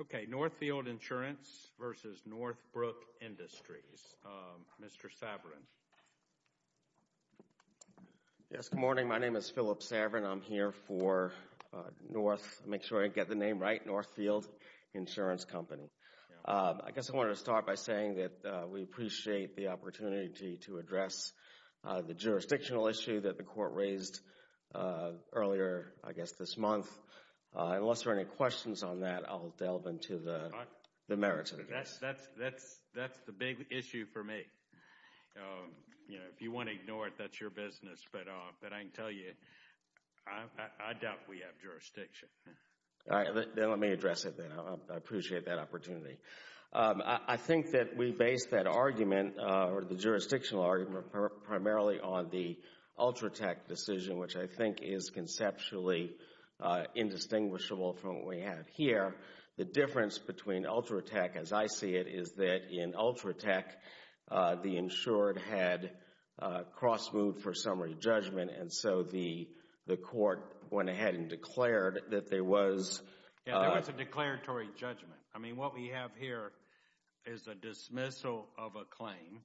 Okay, Northfield Insurance v. Northbrook Industries. Mr. Saverin. Yes, good morning. My name is Philip Saverin. I'm here for North, make sure I get the name right, Northfield Insurance Company. I guess I want to start by saying that we appreciate the opportunity to address the jurisdictional issue that the court raised earlier, I guess this month. Unless there are any questions on that, I'll delve into the merits of it. That's the big issue for me. If you want to ignore it, that's your business. But I can tell you, I doubt we have jurisdiction. Let me address it then. I appreciate that opportunity. I think that we base that argument, or the jurisdictional argument, primarily on the Ultratech decision, which I think is conceptually indistinguishable from what we have here. The difference between Ultratech, as I see it, is that in Ultratech, the insured had cross-moved for summary judgment, and so the court went ahead and declared that there was... Yeah, there was a declaratory judgment. I mean, what we have here is a dismissal of a claim,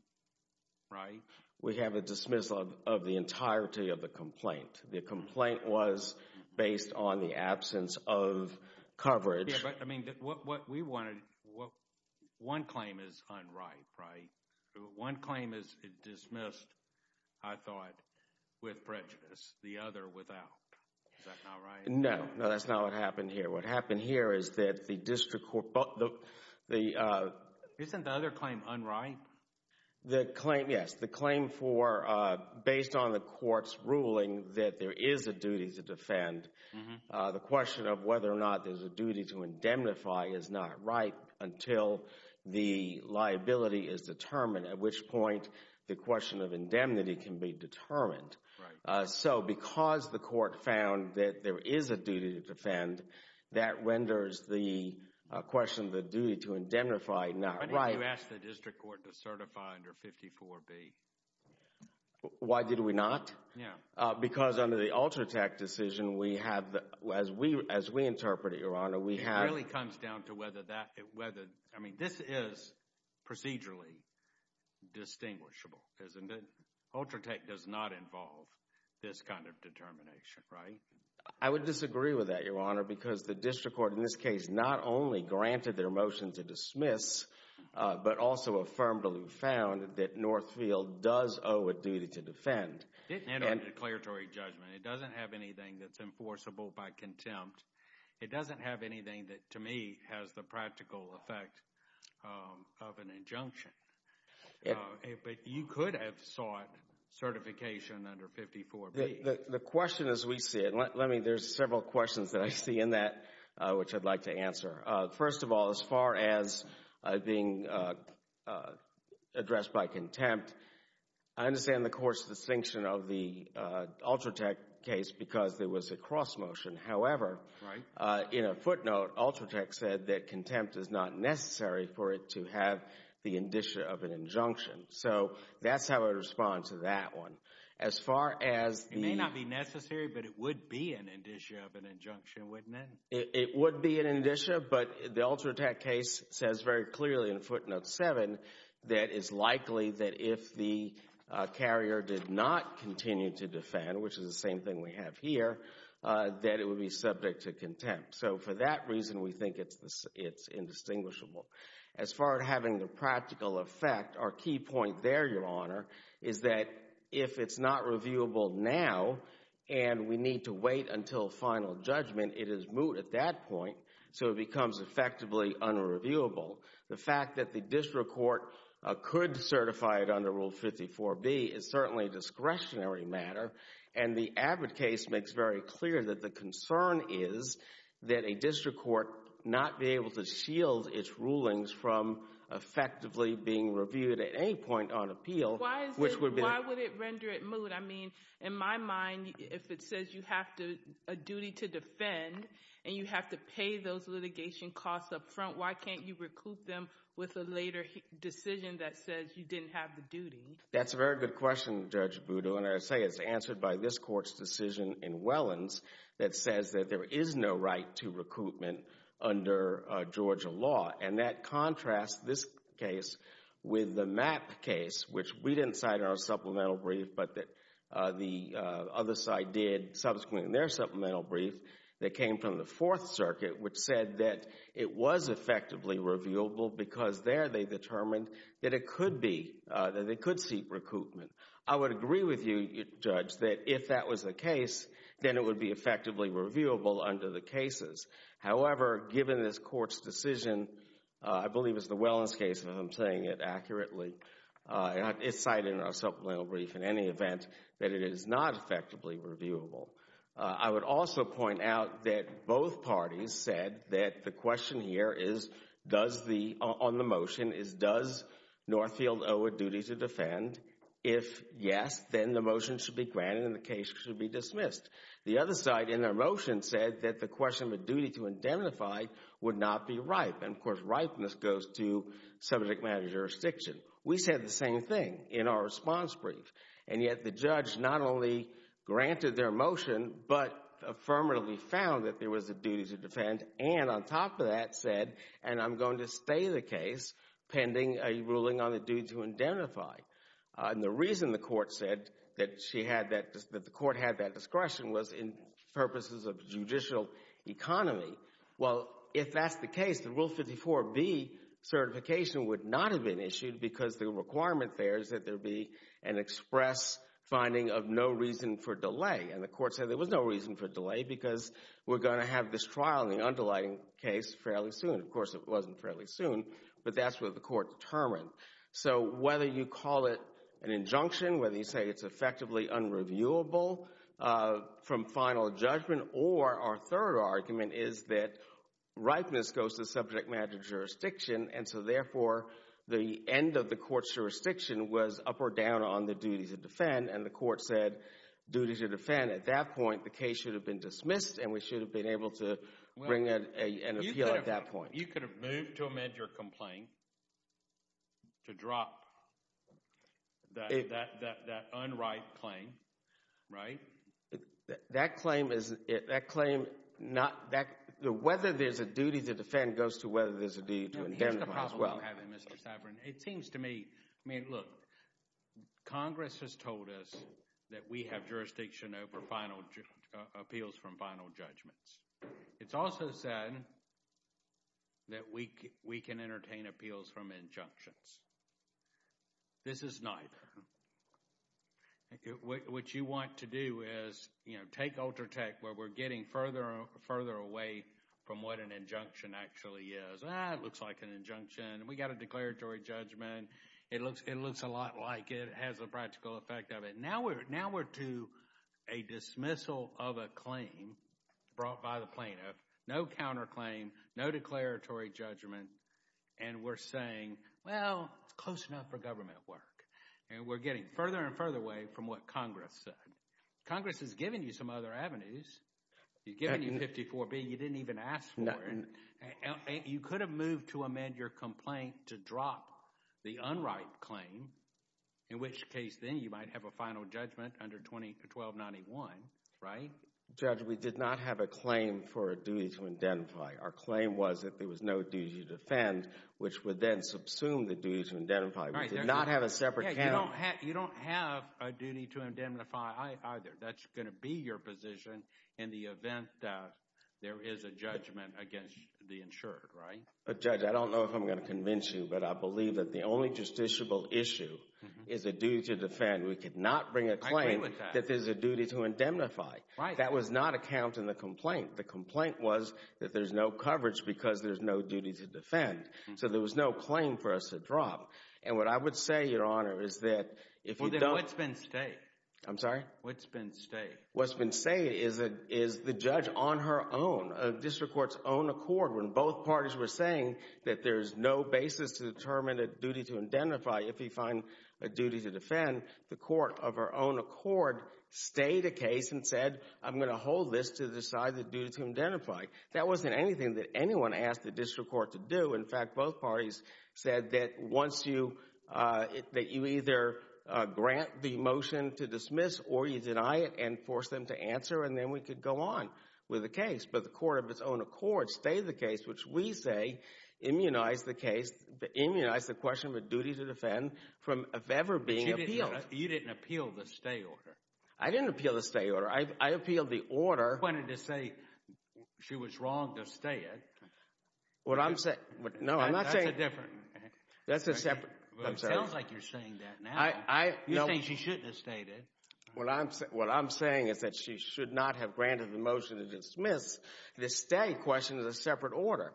right? We have a dismissal of the entirety of the complaint. The complaint was based on the absence of coverage. Yeah, but I mean, what we wanted, one claim is unright, right? One claim is dismissed, I thought, with prejudice. The other without. Is that not right? No, no, that's not what happened here. What happened here is that the district court... Isn't the other claim unright? Yes, the claim for, based on the court's ruling that there is a duty to defend, the question of whether or not there's a duty to indemnify is not right until the liability is determined, at which point the question of indemnity can be determined. So because the court found that there is a duty to defend, that renders the question of the duty to indemnify not right. Why did you ask the district court to certify under 54B? Why did we not? Yeah. Because under the Ultratech decision, we have, as we interpret it, Your Honor, we have... It really comes down to whether that, whether, I mean, this is procedurally distinguishable, isn't it? Ultratech does not involve this kind of determination, right? I would disagree with that, Your Honor, because the district court, in this case, not only granted their motion to dismiss, but also affirmatively found that Northfield does owe a duty to defend. It didn't end on declaratory judgment. It doesn't have anything that's enforceable by contempt. It doesn't have anything that, to me, has the practical effect of an injunction. But you could have sought certification under 54B. The question, as we see it, let me, there's several questions that I see in that which I'd like to answer. First of all, as far as being addressed by contempt, I understand the court's distinction of the Ultratech case because there was a cross motion. However, in a footnote, Ultratech said that contempt is not necessary for it to have the indicia of an injunction. So that's how I respond to that one. As far as the... It may not be necessary, but it would be an indicia of an injunction, wouldn't it? It would be an indicia, but the Ultratech case says very clearly in footnote seven that it's likely that if the carrier did not continue to defend, which is the same thing we have here, that it would be subject to contempt. So for that reason, we think it's indistinguishable. As far as having the practical effect, our key point there, Your Honor, is that if it's not reviewable now and we need to wait until final judgment, it is moot at that point so it becomes effectively unreviewable. The fact that the district court could certify it under Rule 54B is certainly a discretionary matter, and the Abbott case makes very clear that the concern is that a district court not be able to shield its rulings from effectively being reviewed at any point on appeal, which would be... Why would it render it moot? I mean, in my mind, if it says you have a duty to defend and you have to pay those litigation costs up front, why can't you recoup them with a later decision that says you didn't have the duty? That's a very good question, Judge Boodoo, and I say it's answered by this court's decision in Wellens that says that there is no right to recoupment under Georgia law, and that contrasts this case with the Mapp case, which we didn't cite in our supplemental brief, but that the other side did subsequently in their supplemental brief that came from the Fourth Circuit, which said that it was effectively reviewable because there they determined that it could be, that they could seek recoupment. I would agree with you, Judge, that if that was the case, then it would be effectively reviewable under the cases. However, given this court's decision, I believe it's the Wellens case if I'm saying it accurately, it's cited in our supplemental brief in any event that it is not effectively reviewable. I would also point out that both parties said that the question here is, does the, on the motion, is does Northfield owe a duty to defend? If yes, then the motion should be granted and the case should be dismissed. The other side in their motion said that the question of a duty to indemnify would not be ripe, and of course ripeness goes to subject matter jurisdiction. We said the same thing in our response brief, and yet the judge not only granted their motion, but affirmatively found that there was a duty to defend, and on top of that said, and I'm going to stay the case pending a ruling on the duty to indemnify. And the reason the court said that she had that, that the court had that discretion was in purposes of judicial economy. Well, if that's the case, Rule 54B certification would not have been issued because the requirement there is that there be an express finding of no reason for delay, and the court said there was no reason for delay because we're going to have this trial in the undulating case fairly soon. Of course, it wasn't fairly soon, but that's what the court determined. So whether you call it an injunction, whether you say it's effectively unreviewable from final judgment, or our third argument is that ripeness goes to subject matter jurisdiction, and so therefore the end of the court's jurisdiction was up or down on the duty to defend, and the court said duty to defend. At that point, the case should have been dismissed, and we should have been able to bring an appeal at that point. You could have moved to amend your complaint to drop that unright claim, right? That claim is, that claim, not that, whether there's a duty to defend goes to whether there's a duty to indemnify as well. Here's the problem you're having, Mr. Saffron. It seems to me, I mean, look, Congress has told us that we have jurisdiction over final, appeals from final judgments. It's also said that we can entertain appeals from injunctions. This is not. What you want to do is, you know, take Ultratech where we're getting further and further away from what an injunction actually is. Ah, it looks like an injunction. We got a declaratory judgment. It looks, it looks a lot like it. It has a practical effect of it. Now we're, now we're to a dismissal of a claim brought by the plaintiff. No counterclaim, no declaratory judgment, and we're saying, well, it's close enough for government work, and we're getting further and further away from what Congress said. Congress has given you some other avenues. You've given you 54B. You didn't even ask for it. You could have moved to amend your complaint to drop the unright claim, in which case then you might have a final judgment under 1291, right? Judge, we did not have a claim for a duty to indemnify. Our claim was that there was no duty to defend, which would then subsume the duty to indemnify. We did not have a separate count. You don't have a duty to indemnify either. That's going to be your position in the event that there is a judgment against the insured, right? Judge, I don't know if I'm going to convince you, but I believe that the only justiciable issue is a duty to defend. We could not bring a claim that there's a duty to indemnify. That was not a count in the complaint. The complaint was that there's no coverage because there's no duty to defend. So there was no claim for us to drop. And what I would say, Your Honor, is that if you don't— Well, then what's been said? I'm sorry? What's been said? What's been said is the judge on her own, a district court's own accord, when both parties were saying that there's no basis to determine a duty to indemnify if you find a duty to defend, the court of her own accord stayed the case and said, I'm going to hold this to decide the duty to indemnify. That wasn't anything that anyone asked the district court to do. In fact, both parties said that once you—that you either grant the motion to dismiss or you deny it and force them to answer, and then we could go on with the case. But the court of its own accord stayed the case, which we say immunized the case—immunized the question of a duty to defend from ever being appealed. But you didn't appeal the stay order. I didn't appeal the stay order. I appealed the order— You wanted to say she was wrong to stay it. What I'm saying—no, I'm not saying— That's a different— That's a separate— It sounds like you're saying that now. You're saying she shouldn't have stayed it. What I'm saying is that she should not have granted the motion to dismiss. The stay question is a separate order.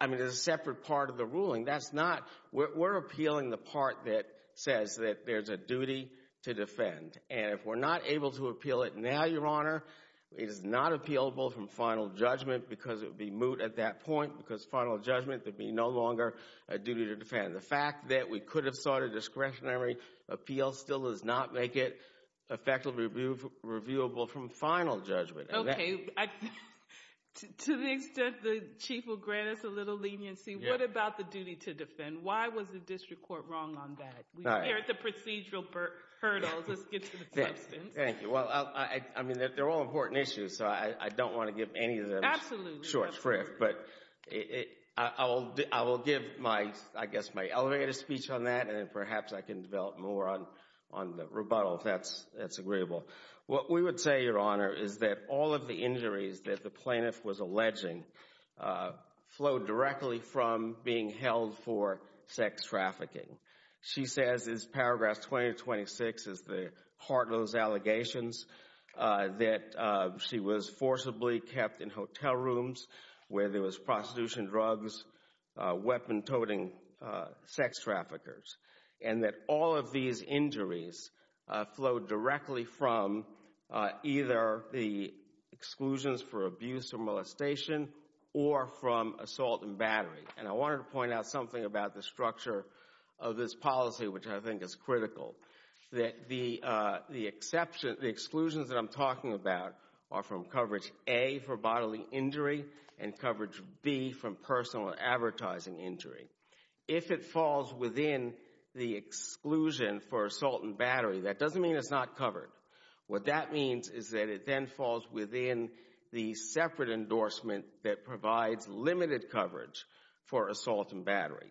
I mean, it's a separate part of the ruling. That's not—we're appealing the part that says that there's a duty to defend. And if we're not able to appeal it now, Your Honor, it is not appealable from final judgment because it would be moot at that point because final judgment would be no longer a duty to defend. The fact that we could have sought a discretionary appeal still does not make it effectively reviewable from final judgment. Okay. To the extent the Chief will grant us a little leniency, what about the duty to defend? Why was the district court wrong on that? We're here at the procedural hurdles. Let's get to the substance. Thank you. Well, I mean, they're all important issues, so I don't want to give any of them— —short shrift. But I will give my—I guess my elevated speech on that, and perhaps I can develop more on the rebuttal if that's agreeable. What we would say, Your Honor, is that all of the injuries that the plaintiff was alleging flowed directly from being held for sex trafficking. She says, in paragraph 2026, is the heartless allegations that she was forcibly kept in hotel rooms where there was prostitution, drugs, weapon-toting sex traffickers, and that all of these injuries flowed directly from either the exclusions for abuse or molestation or from assault and battery. And I wanted to point out something about the structure of this policy, which I think is critical, that the exclusions that I'm talking about are from coverage A for bodily injury and coverage B from personal and advertising injury. If it falls within the exclusion for assault and battery, that doesn't mean it's not covered. What that means is that it then falls within the separate endorsement that provides limited coverage for assault and battery.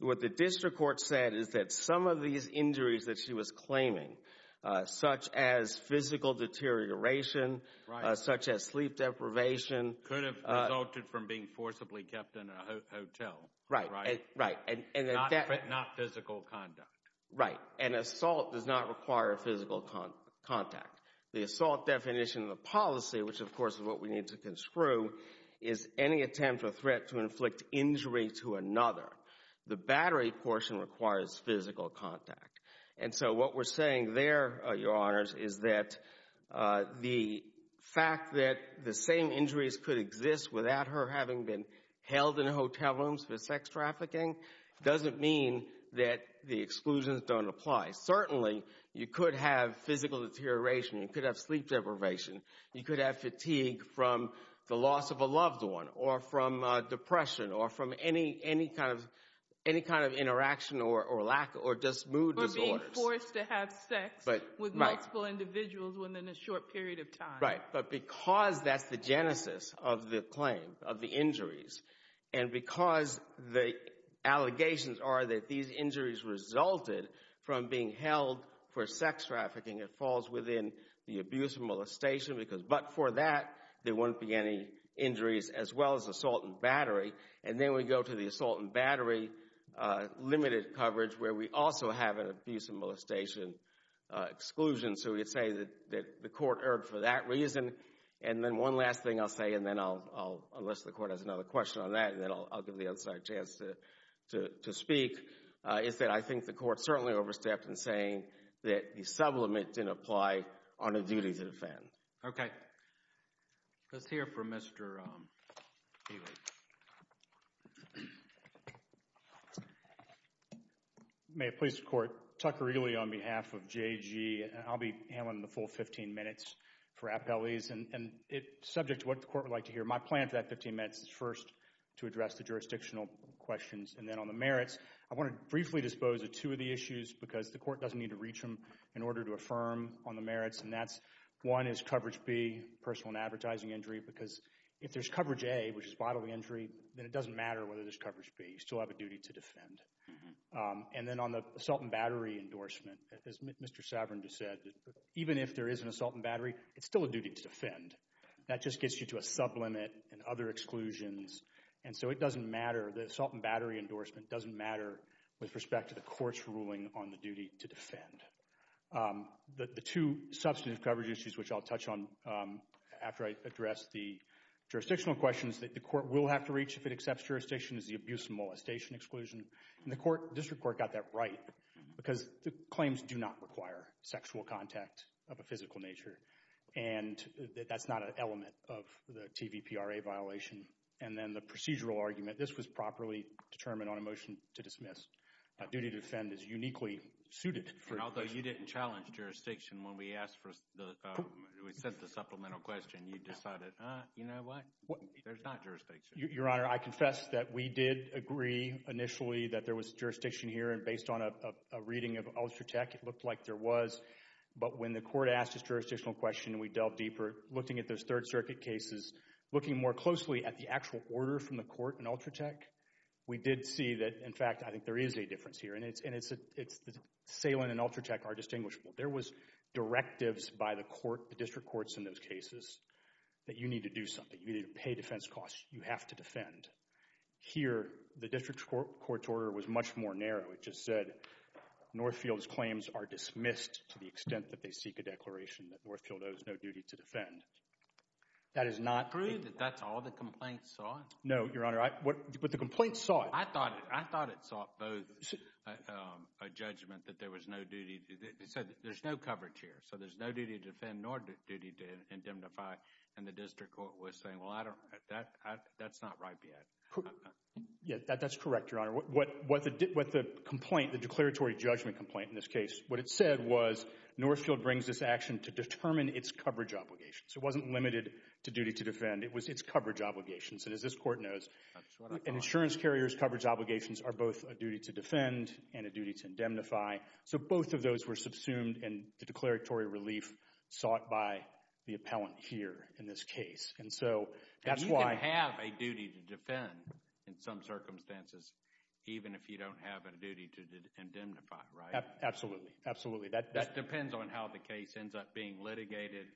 What the district court said is that some of these injuries that she was claiming, such as physical deterioration, such as sleep deprivation— Could have resulted from being forcibly kept in a hotel. Right, right. And not physical conduct. Right. And assault does not require physical contact. The assault definition of the policy, which of course is what we need to conscrue, is any attempt or threat to inflict injury to another. The battery portion requires physical contact. And so what we're saying there, Your Honors, is that the fact that the same injuries could exist without her having been held in hotel rooms for sex trafficking doesn't mean that the exclusions don't apply. Certainly, you could have physical deterioration. You could have sleep deprivation. You could have fatigue from the loss of a loved one or from depression or from any kind of interaction or lack or just mood disorders. Or being forced to have sex with multiple individuals within a short period of time. But because that's the genesis of the claim, of the injuries, and because the allegations are that these injuries resulted from being held for sex trafficking, it falls within the abuse and molestation. But for that, there wouldn't be any injuries as well as assault and battery. And then we go to the assault and battery limited coverage, where we also have an abuse and and then one last thing I'll say, and then I'll, unless the Court has another question on that, and then I'll give the other side a chance to speak, is that I think the Court certainly overstepped in saying that the sublimate didn't apply on a duty to defend. Okay. Let's hear from Mr. Ealy. May it please the Court. Tucker Ealy on behalf of JG. I'll be handling the full 15 minutes for appellees. And it's subject to what the Court would like to hear. My plan for that 15 minutes is first to address the jurisdictional questions. And then on the merits, I want to briefly dispose of two of the issues because the Court doesn't need to reach them in order to affirm on the merits. And that's, one is coverage B, personal and advertising injury. Because if there's coverage A, which is bodily injury, then it doesn't matter whether there's coverage B. You still have a duty to defend. And then on the assault and battery endorsement, as Mr. Savern just said, even if there is an assault and battery, it's still a duty to defend. That just gets you to a sublimit and other exclusions. And so it doesn't matter. The assault and battery endorsement doesn't matter with respect to the Court's ruling on the duty to defend. The two substantive coverage issues, which I'll touch on after I address the jurisdictional questions that the Court will have to reach if it accepts jurisdiction, is the abuse and molestation exclusion. And the Court, District Court, got that right because the claims do not require sexual contact of a physical nature. And that's not an element of the TVPRA violation. And then the procedural argument, this was properly determined on a motion to dismiss. A duty to defend is uniquely suited for... Although you didn't challenge jurisdiction when we asked for the, we sent the supplemental question, you decided, uh, you know what, there's not jurisdiction. Your Honor, I confess that we did agree initially that there was jurisdiction here. And based on a reading of Ultratech, it looked like there was. But when the Court asked this jurisdictional question and we delved deeper, looking at those Third Circuit cases, looking more closely at the actual order from the Court in Ultratech, we did see that, in fact, I think there is a difference here. And it's, and it's, it's, Salin and Ultratech are distinguishable. There was directives by the Court, the District Courts in those cases, that you need to do something. You need to pay defense costs. You have to defend. Here, the District Court's order was much more narrow. It just said, Northfield's claims are dismissed to the extent that they seek a declaration that Northfield owes no duty to defend. That is not... Is it true that that's all the complaints saw? No, Your Honor, I, what, but the complaints saw it. I thought, I thought it sought both a judgment that there was no duty to, it said there's no coverage here. So there's no duty to defend nor duty to indemnify. And the District Court was saying, well, I don't, that, that's not ripe yet. Yeah, that's correct, Your Honor. What, what the, what the complaint, the declaratory judgment complaint in this case, what it said was Northfield brings this action to determine its coverage obligations. It wasn't limited to duty to defend. It was its coverage obligations. And as this Court knows, an insurance carrier's coverage obligations are both a duty to defend and a duty to indemnify. So both of those were subsumed in the declaratory relief sought by the appellant here in this case. And so that's why... And you can have a duty to defend in some circumstances, even if you don't have a duty to indemnify, right? Absolutely. Absolutely. That, that... It just depends on how the case ends up being litigated.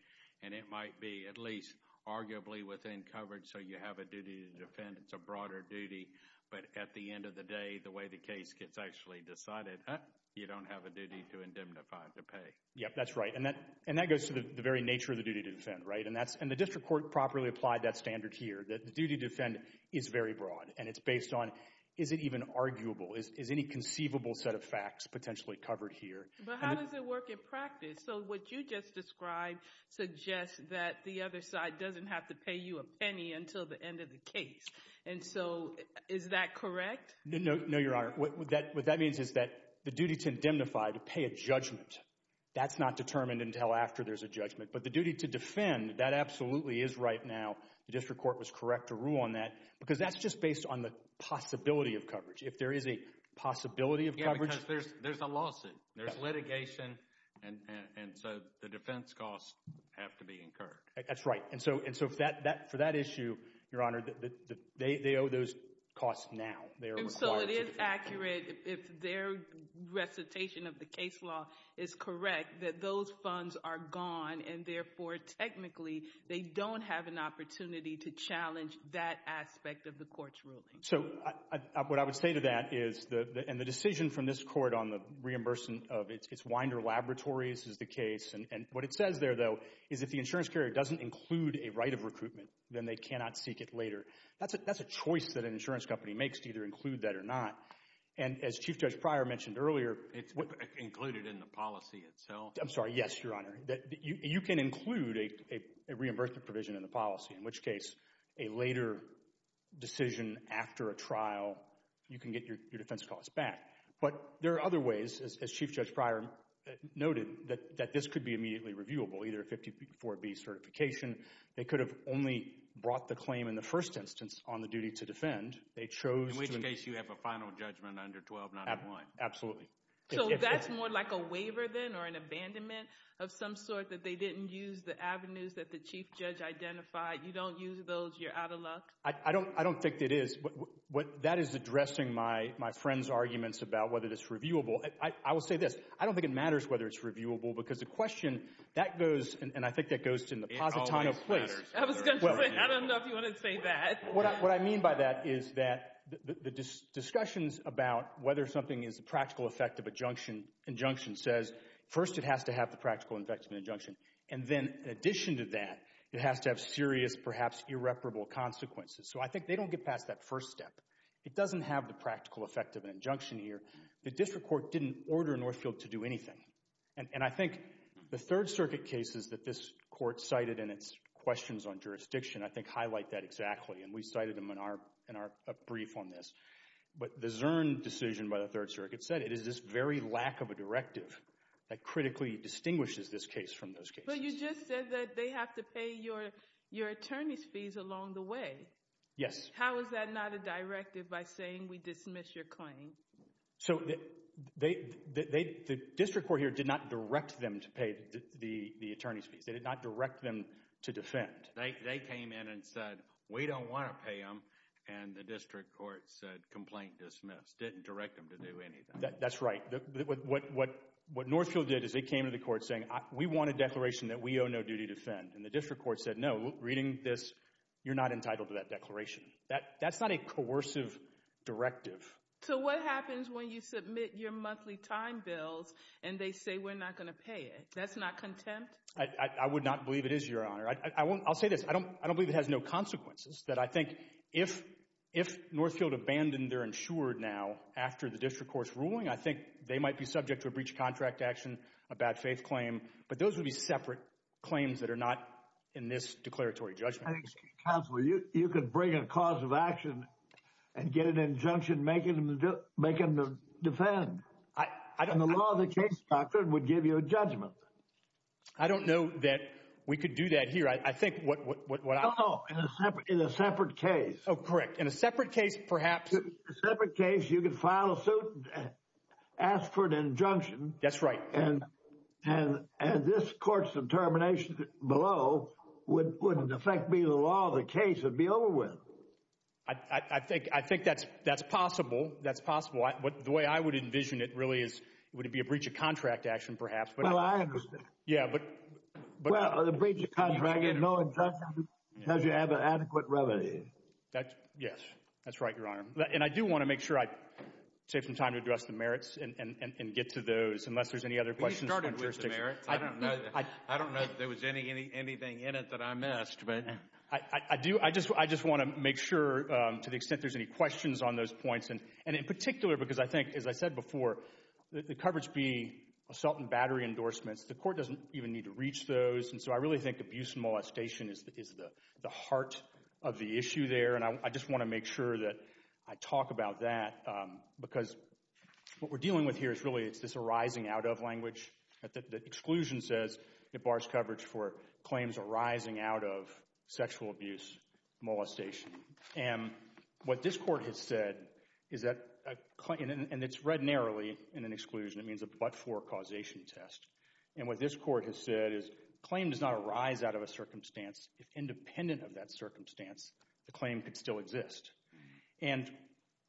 And it might be at least arguably within coverage. So you have a duty to defend. It's a broader duty. But at the end of the day, the way the case gets actually decided, huh, you don't have a duty to indemnify to pay. Yep, that's right. And that, and that goes to the very nature of the duty to defend, right? And that's, and the District Court properly applied that standard here, that the duty to defend is very broad. And it's based on, is it even arguable? Is, is any conceivable set of facts potentially covered here? But how does it work in practice? So what you just described suggests that the other side doesn't have to pay you a penny until the end of the case. And so is that correct? No, Your Honor. What that means is that the duty to indemnify, to pay a judgment, that's not determined until after there's a judgment. But the duty to defend, that absolutely is right now. The District Court was correct to rule on that. Because that's just based on the possibility of coverage. If there is a possibility of coverage... Yeah, because there's a lawsuit. There's litigation. And so the defense costs have to be incurred. That's right. And so, and so it is accurate, if their recitation of the case law is correct, that those funds are gone. And therefore, technically, they don't have an opportunity to challenge that aspect of the Court's ruling. So what I would say to that is, and the decision from this Court on the reimbursement of its Winder Laboratories is the case. And what it says there, though, is if the insurance carrier doesn't include a right of recruitment, then they cannot seek it later. That's a choice that an insurance company makes to either include that or not. And as Chief Judge Pryor mentioned earlier... It's included in the policy itself? I'm sorry. Yes, Your Honor. You can include a reimbursement provision in the policy, in which case, a later decision after a trial, you can get your defense costs back. But there are other ways, as Chief Judge Pryor noted, that this could be immediately reviewable, either a 54B certification. They could have only brought the claim in the first instance on the duty to defend. They chose to... In which case, you have a final judgment under 1291. Absolutely. So that's more like a waiver, then, or an abandonment of some sort that they didn't use the avenues that the Chief Judge identified. You don't use those, you're out of luck? I don't think it is. That is addressing my friend's arguments about whether it's reviewable. I will say this. I don't think it matters whether it's reviewable, because the question, that goes, and I think that goes to the positon of place. I was going to say, I don't know if you want to say that. What I mean by that is that the discussions about whether something is a practical effect of an injunction says, first, it has to have the practical effect of an injunction. And then, in addition to that, it has to have serious, perhaps irreparable consequences. So I think they don't get past that first step. It doesn't have the practical effect of an injunction here. The district court didn't order Northfield to do anything. And I think the Third Circuit cases that this court cited in its questions on jurisdiction, I think, highlight that exactly. And we cited them in our brief on this. But the Zurn decision by the Third Circuit said it is this very lack of a directive that critically distinguishes this case from those cases. But you just said that they have to pay your attorney's fees along the way. Yes. How is that not a directive by saying, we dismiss your claim? So the district court here did not direct them to pay the attorney's fees. They did not direct them to defend. They came in and said, we don't want to pay them. And the district court said, complaint dismissed. Didn't direct them to do anything. That's right. What Northfield did is they came to the court saying, we want a declaration that we owe no duty to defend. And the district court said, no, reading this, you're not entitled to that declaration. That's not a coercive directive. So what happens when you submit your monthly time bills and they say we're not going to pay it? That's not contempt? I would not believe it is, Your Honor. I'll say this. I don't believe it has no consequences. That I think if Northfield abandoned their insured now after the district court's ruling, I think they might be subject to a breach of contract action, a bad faith claim. But those would be separate claims that are not in this declaratory judgment. Counselor, you could bring a cause of action and get an injunction making them defend. And the law of the case, doctor, would give you a judgment. I don't know that we could do that here. I think what I... No, no. In a separate case. Oh, correct. In a separate case, perhaps. In a separate case, you could file a suit, ask for an injunction. That's right. And this court's determination below wouldn't affect me. The law of the case would be over with. I think that's possible. That's possible. The way I would envision it really is it would be a breach of contract action, perhaps. Well, I understand. Yeah, but... Well, a breach of contract and no injunction because you have an adequate remedy. Yes, that's right, Your Honor. And I do want to make sure I take some time to address the merits and get to those unless there's any other questions. We started with the merits. I don't know if there was anything in it that I missed, but... I just want to make sure to the extent there's any questions on those points. And in particular, because I think, as I said before, the coverage being assault and battery endorsements, the court doesn't even need to reach those. And so I really think abuse and molestation is the heart of the issue there. And I just want to make sure that I talk about that because what we're dealing with here is really it's this arising out of language. The exclusion says it bars coverage for claims arising out of sexual abuse, molestation. And what this court has said is that... And it's read narrowly in an exclusion. It means a but-for causation test. And what this court has said is claim does not arise out of a circumstance. If independent of that circumstance, the claim could still exist. And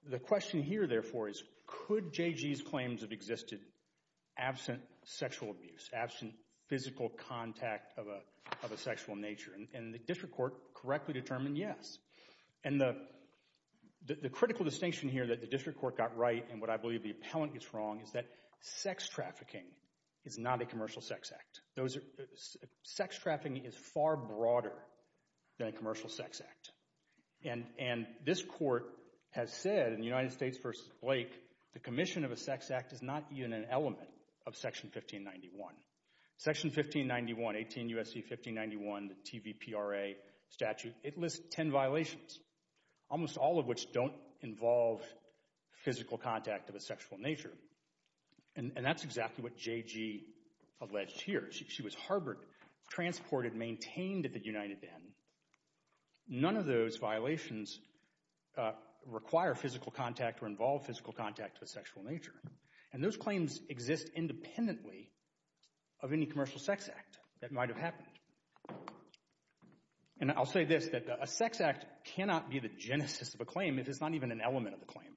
the question here, therefore, is could J.G.'s claims have existed absent sexual abuse, absent physical contact of a sexual nature? And the district court correctly determined yes. And the critical distinction here that the district court got right, and what I believe the appellant gets wrong, is that sex trafficking is not a commercial sex act. Sex trafficking is far broader than a commercial sex act. And this court has said in United States v. Blake, the commission of a sex act is not even an element of Section 1591. Section 1591, 18 U.S.C. 1591, the TVPRA statute, it lists 10 violations, almost all of which don't involve physical contact of a sexual nature. And that's exactly what J.G. alleged here. She was harbored, transported, maintained at the United Inn. None of those violations require physical contact or involve physical contact of a sexual nature. And those claims exist independently of any commercial sex act that might have happened. And I'll say this, that a sex act cannot be the genesis of a claim if it's not even an element of the claim.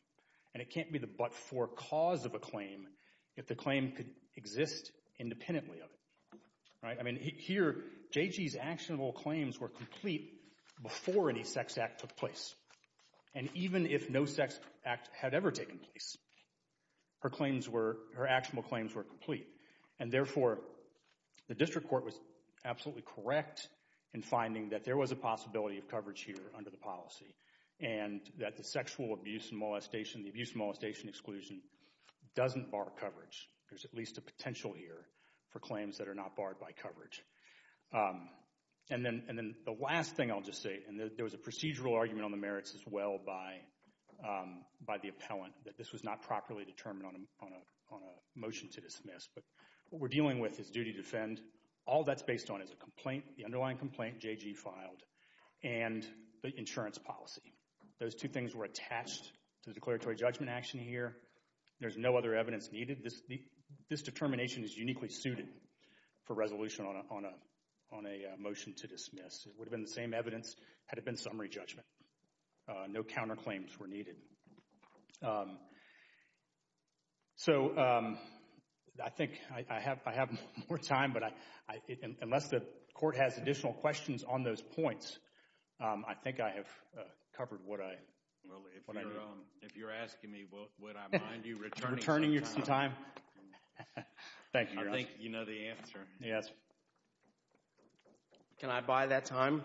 And it can't be the but-for cause of a claim if the claim could exist independently of it. Right? I mean, here, J.G.'s actionable claims were complete before any sex act took place. And even if no sex act had ever taken place, her claims were, her actionable claims were complete. And therefore, the district court was absolutely correct in finding that there was a possibility of coverage here under the policy and that the sexual abuse and molestation, the abuse and molestation exclusion doesn't bar coverage. There's at least a potential here for claims that are not barred by coverage. And then, and then the last thing I'll just say, and there was a procedural argument on the merits as well by the appellant, that this was not properly determined on a motion to dismiss. But what we're dealing with is duty to defend. All that's based on is a complaint, the underlying complaint J.G. filed and the insurance policy. Those two things were attached to the declaratory judgment action here. There's no other evidence needed. This determination is uniquely suited for resolution on a motion to dismiss. It would have been the same evidence had it been summary judgment. No counterclaims were needed. So, I think I have more time, but unless the court has additional questions on those points, I think I have covered what I, what I know. If you're asking me, would I mind you returning some time? Thank you. I think you know the answer. Yes. Can I buy that time?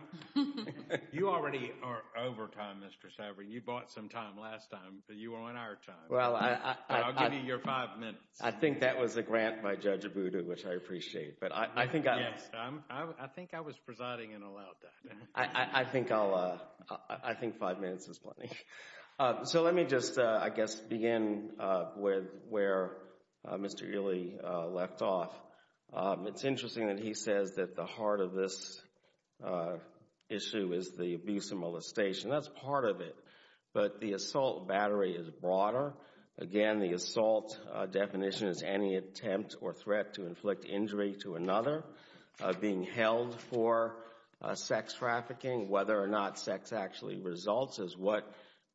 You already are over time, Mr. Saverin. You bought some time last time, but you are on our time. Well, I'll give you your five minutes. I think that was a grant by Judge Abudu, which I appreciate. But I think I, Yes, I think I was presiding and allowed that. I think I'll, I think five minutes is plenty. So, let me just, I guess, begin with where Mr. Ely left off. It's interesting that he says that the heart of this issue is the abuse and molestation. That's part of it, but the assault battery is broader. Again, the assault definition is any attempt or threat to inflict injury to another. Being held for sex trafficking, whether or not sex actually results, is what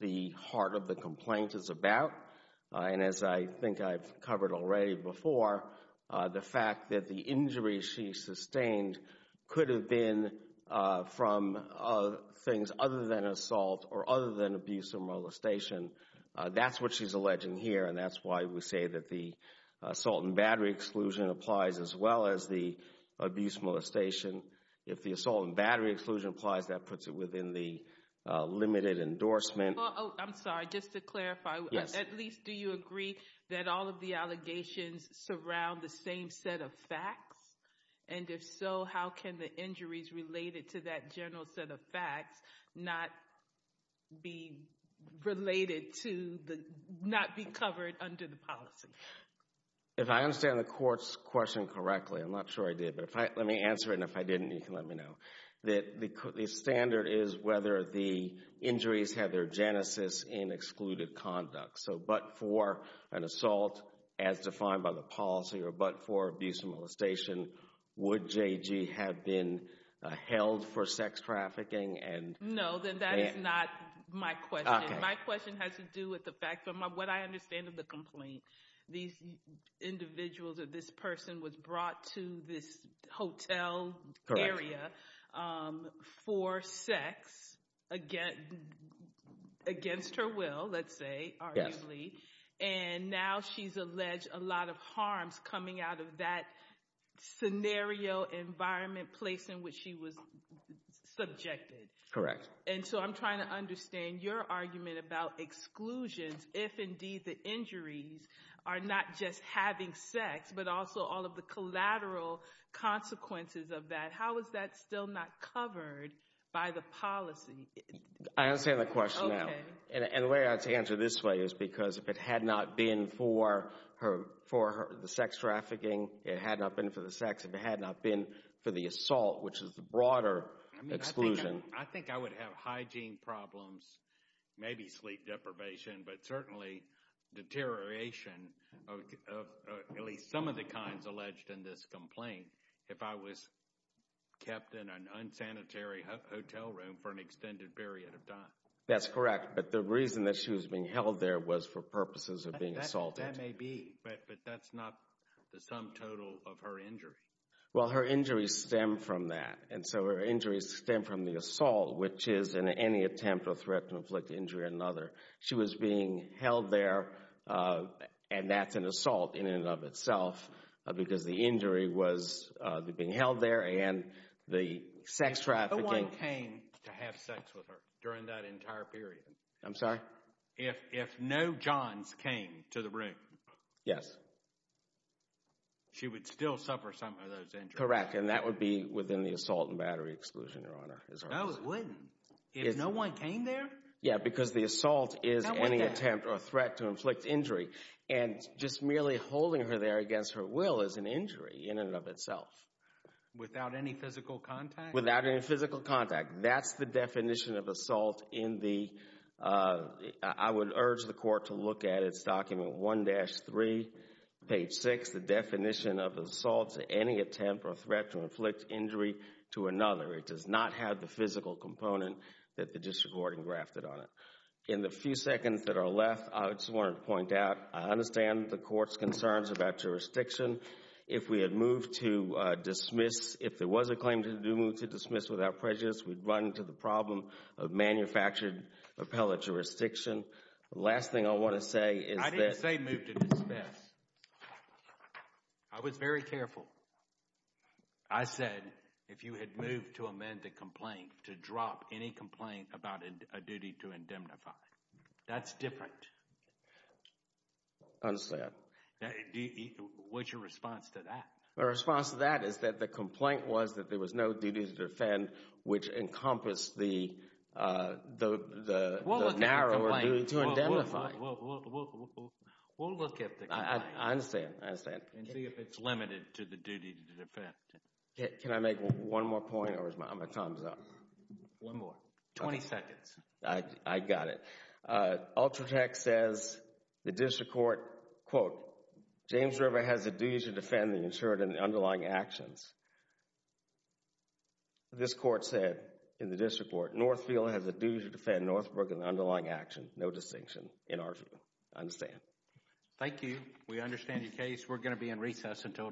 the heart of the complaint is about. And as I think I've covered already before, the fact that the injury she sustained could have been from things other than assault or other than abuse and molestation. That's what she's alleging here, and that's why we say that the assault and battery exclusion applies as well as the abuse and molestation. If the assault and battery exclusion applies, that puts it within the limited endorsement. Oh, I'm sorry. Just to clarify, at least do you agree that all of the allegations surround the same set of facts? And if so, how can the injuries related to that general set of facts not be related to the, not be covered under the policy? If I understand the court's question correctly, I'm not sure I did, but let me answer it, and if I didn't, you can let me know. That the standard is whether the injuries have their genesis in excluded conduct. So but for an assault as defined by the policy, or but for abuse and molestation, would JG have been held for sex trafficking? No, then that is not my question. My question has to do with the fact, from what I understand of the complaint, these individuals or this person was brought to this hotel area for sex against her will, let's say, arguably, and now she's alleged a lot of harms coming out of that scenario, environment, place in which she was subjected. Correct. And so I'm trying to understand your argument about exclusions, if indeed the injuries are not just having sex, but also all of the collateral consequences of that. How is that still not covered by the policy? I understand the question now. And the way I'd answer this way is because if it had not been for the sex trafficking, it had not been for the sex, if it had not been for the assault, which is the broader exclusion. I think I would have hygiene problems, maybe sleep deprivation, but certainly deterioration of at least some of the kinds alleged in this complaint if I was kept in an unsanitary hotel room for an extended period of time. That's correct. But the reason that she was being held there was for purposes of being assaulted. That may be, but that's not the sum total of her injury. Well, her injuries stem from that. And so her injuries stem from the assault, which is in any attempt or threat to inflict injury on another. She was being held there, and that's an assault in and of itself, because the injury was being held there and the sex trafficking. No one came to have sex with her during that entire period. I'm sorry? If no Johns came to the room. Yes. She would still suffer some of those injuries. Correct, and that would be within the assault and battery exclusion, Your Honor. No, it wouldn't. If no one came there? Yeah, because the assault is any attempt or threat to inflict injury. And just merely holding her there against her will is an injury in and of itself. Without any physical contact? Without any physical contact. That's the definition of assault in the, I would urge the court to look at its document 1-3, page 6, the definition of assault to any attempt or threat to inflict injury to another. It does not have the physical component that the district warden grafted on it. In the few seconds that are left, I just wanted to point out, I understand the court's concerns about jurisdiction. If we had moved to dismiss, if there was a claim to do move to dismiss without prejudice, we'd run into the problem of manufactured appellate jurisdiction. The last thing I want to say is that— I was very careful. I said, if you had moved to amend the complaint, to drop any complaint about a duty to indemnify, that's different. I understand. What's your response to that? My response to that is that the complaint was that there was no duty to defend, which encompassed the narrower duty to indemnify. We'll look at the complaint. I understand. And see if it's limited to the duty to defend. Can I make one more point or is my time up? One more. 20 seconds. I got it. Ultratech says the district court, quote, James River has a duty to defend the insured and the underlying actions. This court said in the district court, Northfield has a duty to defend Northbrook and the underlying action, no distinction in our view. I understand. Thank you. We understand your case. We're going to be in recess until tomorrow.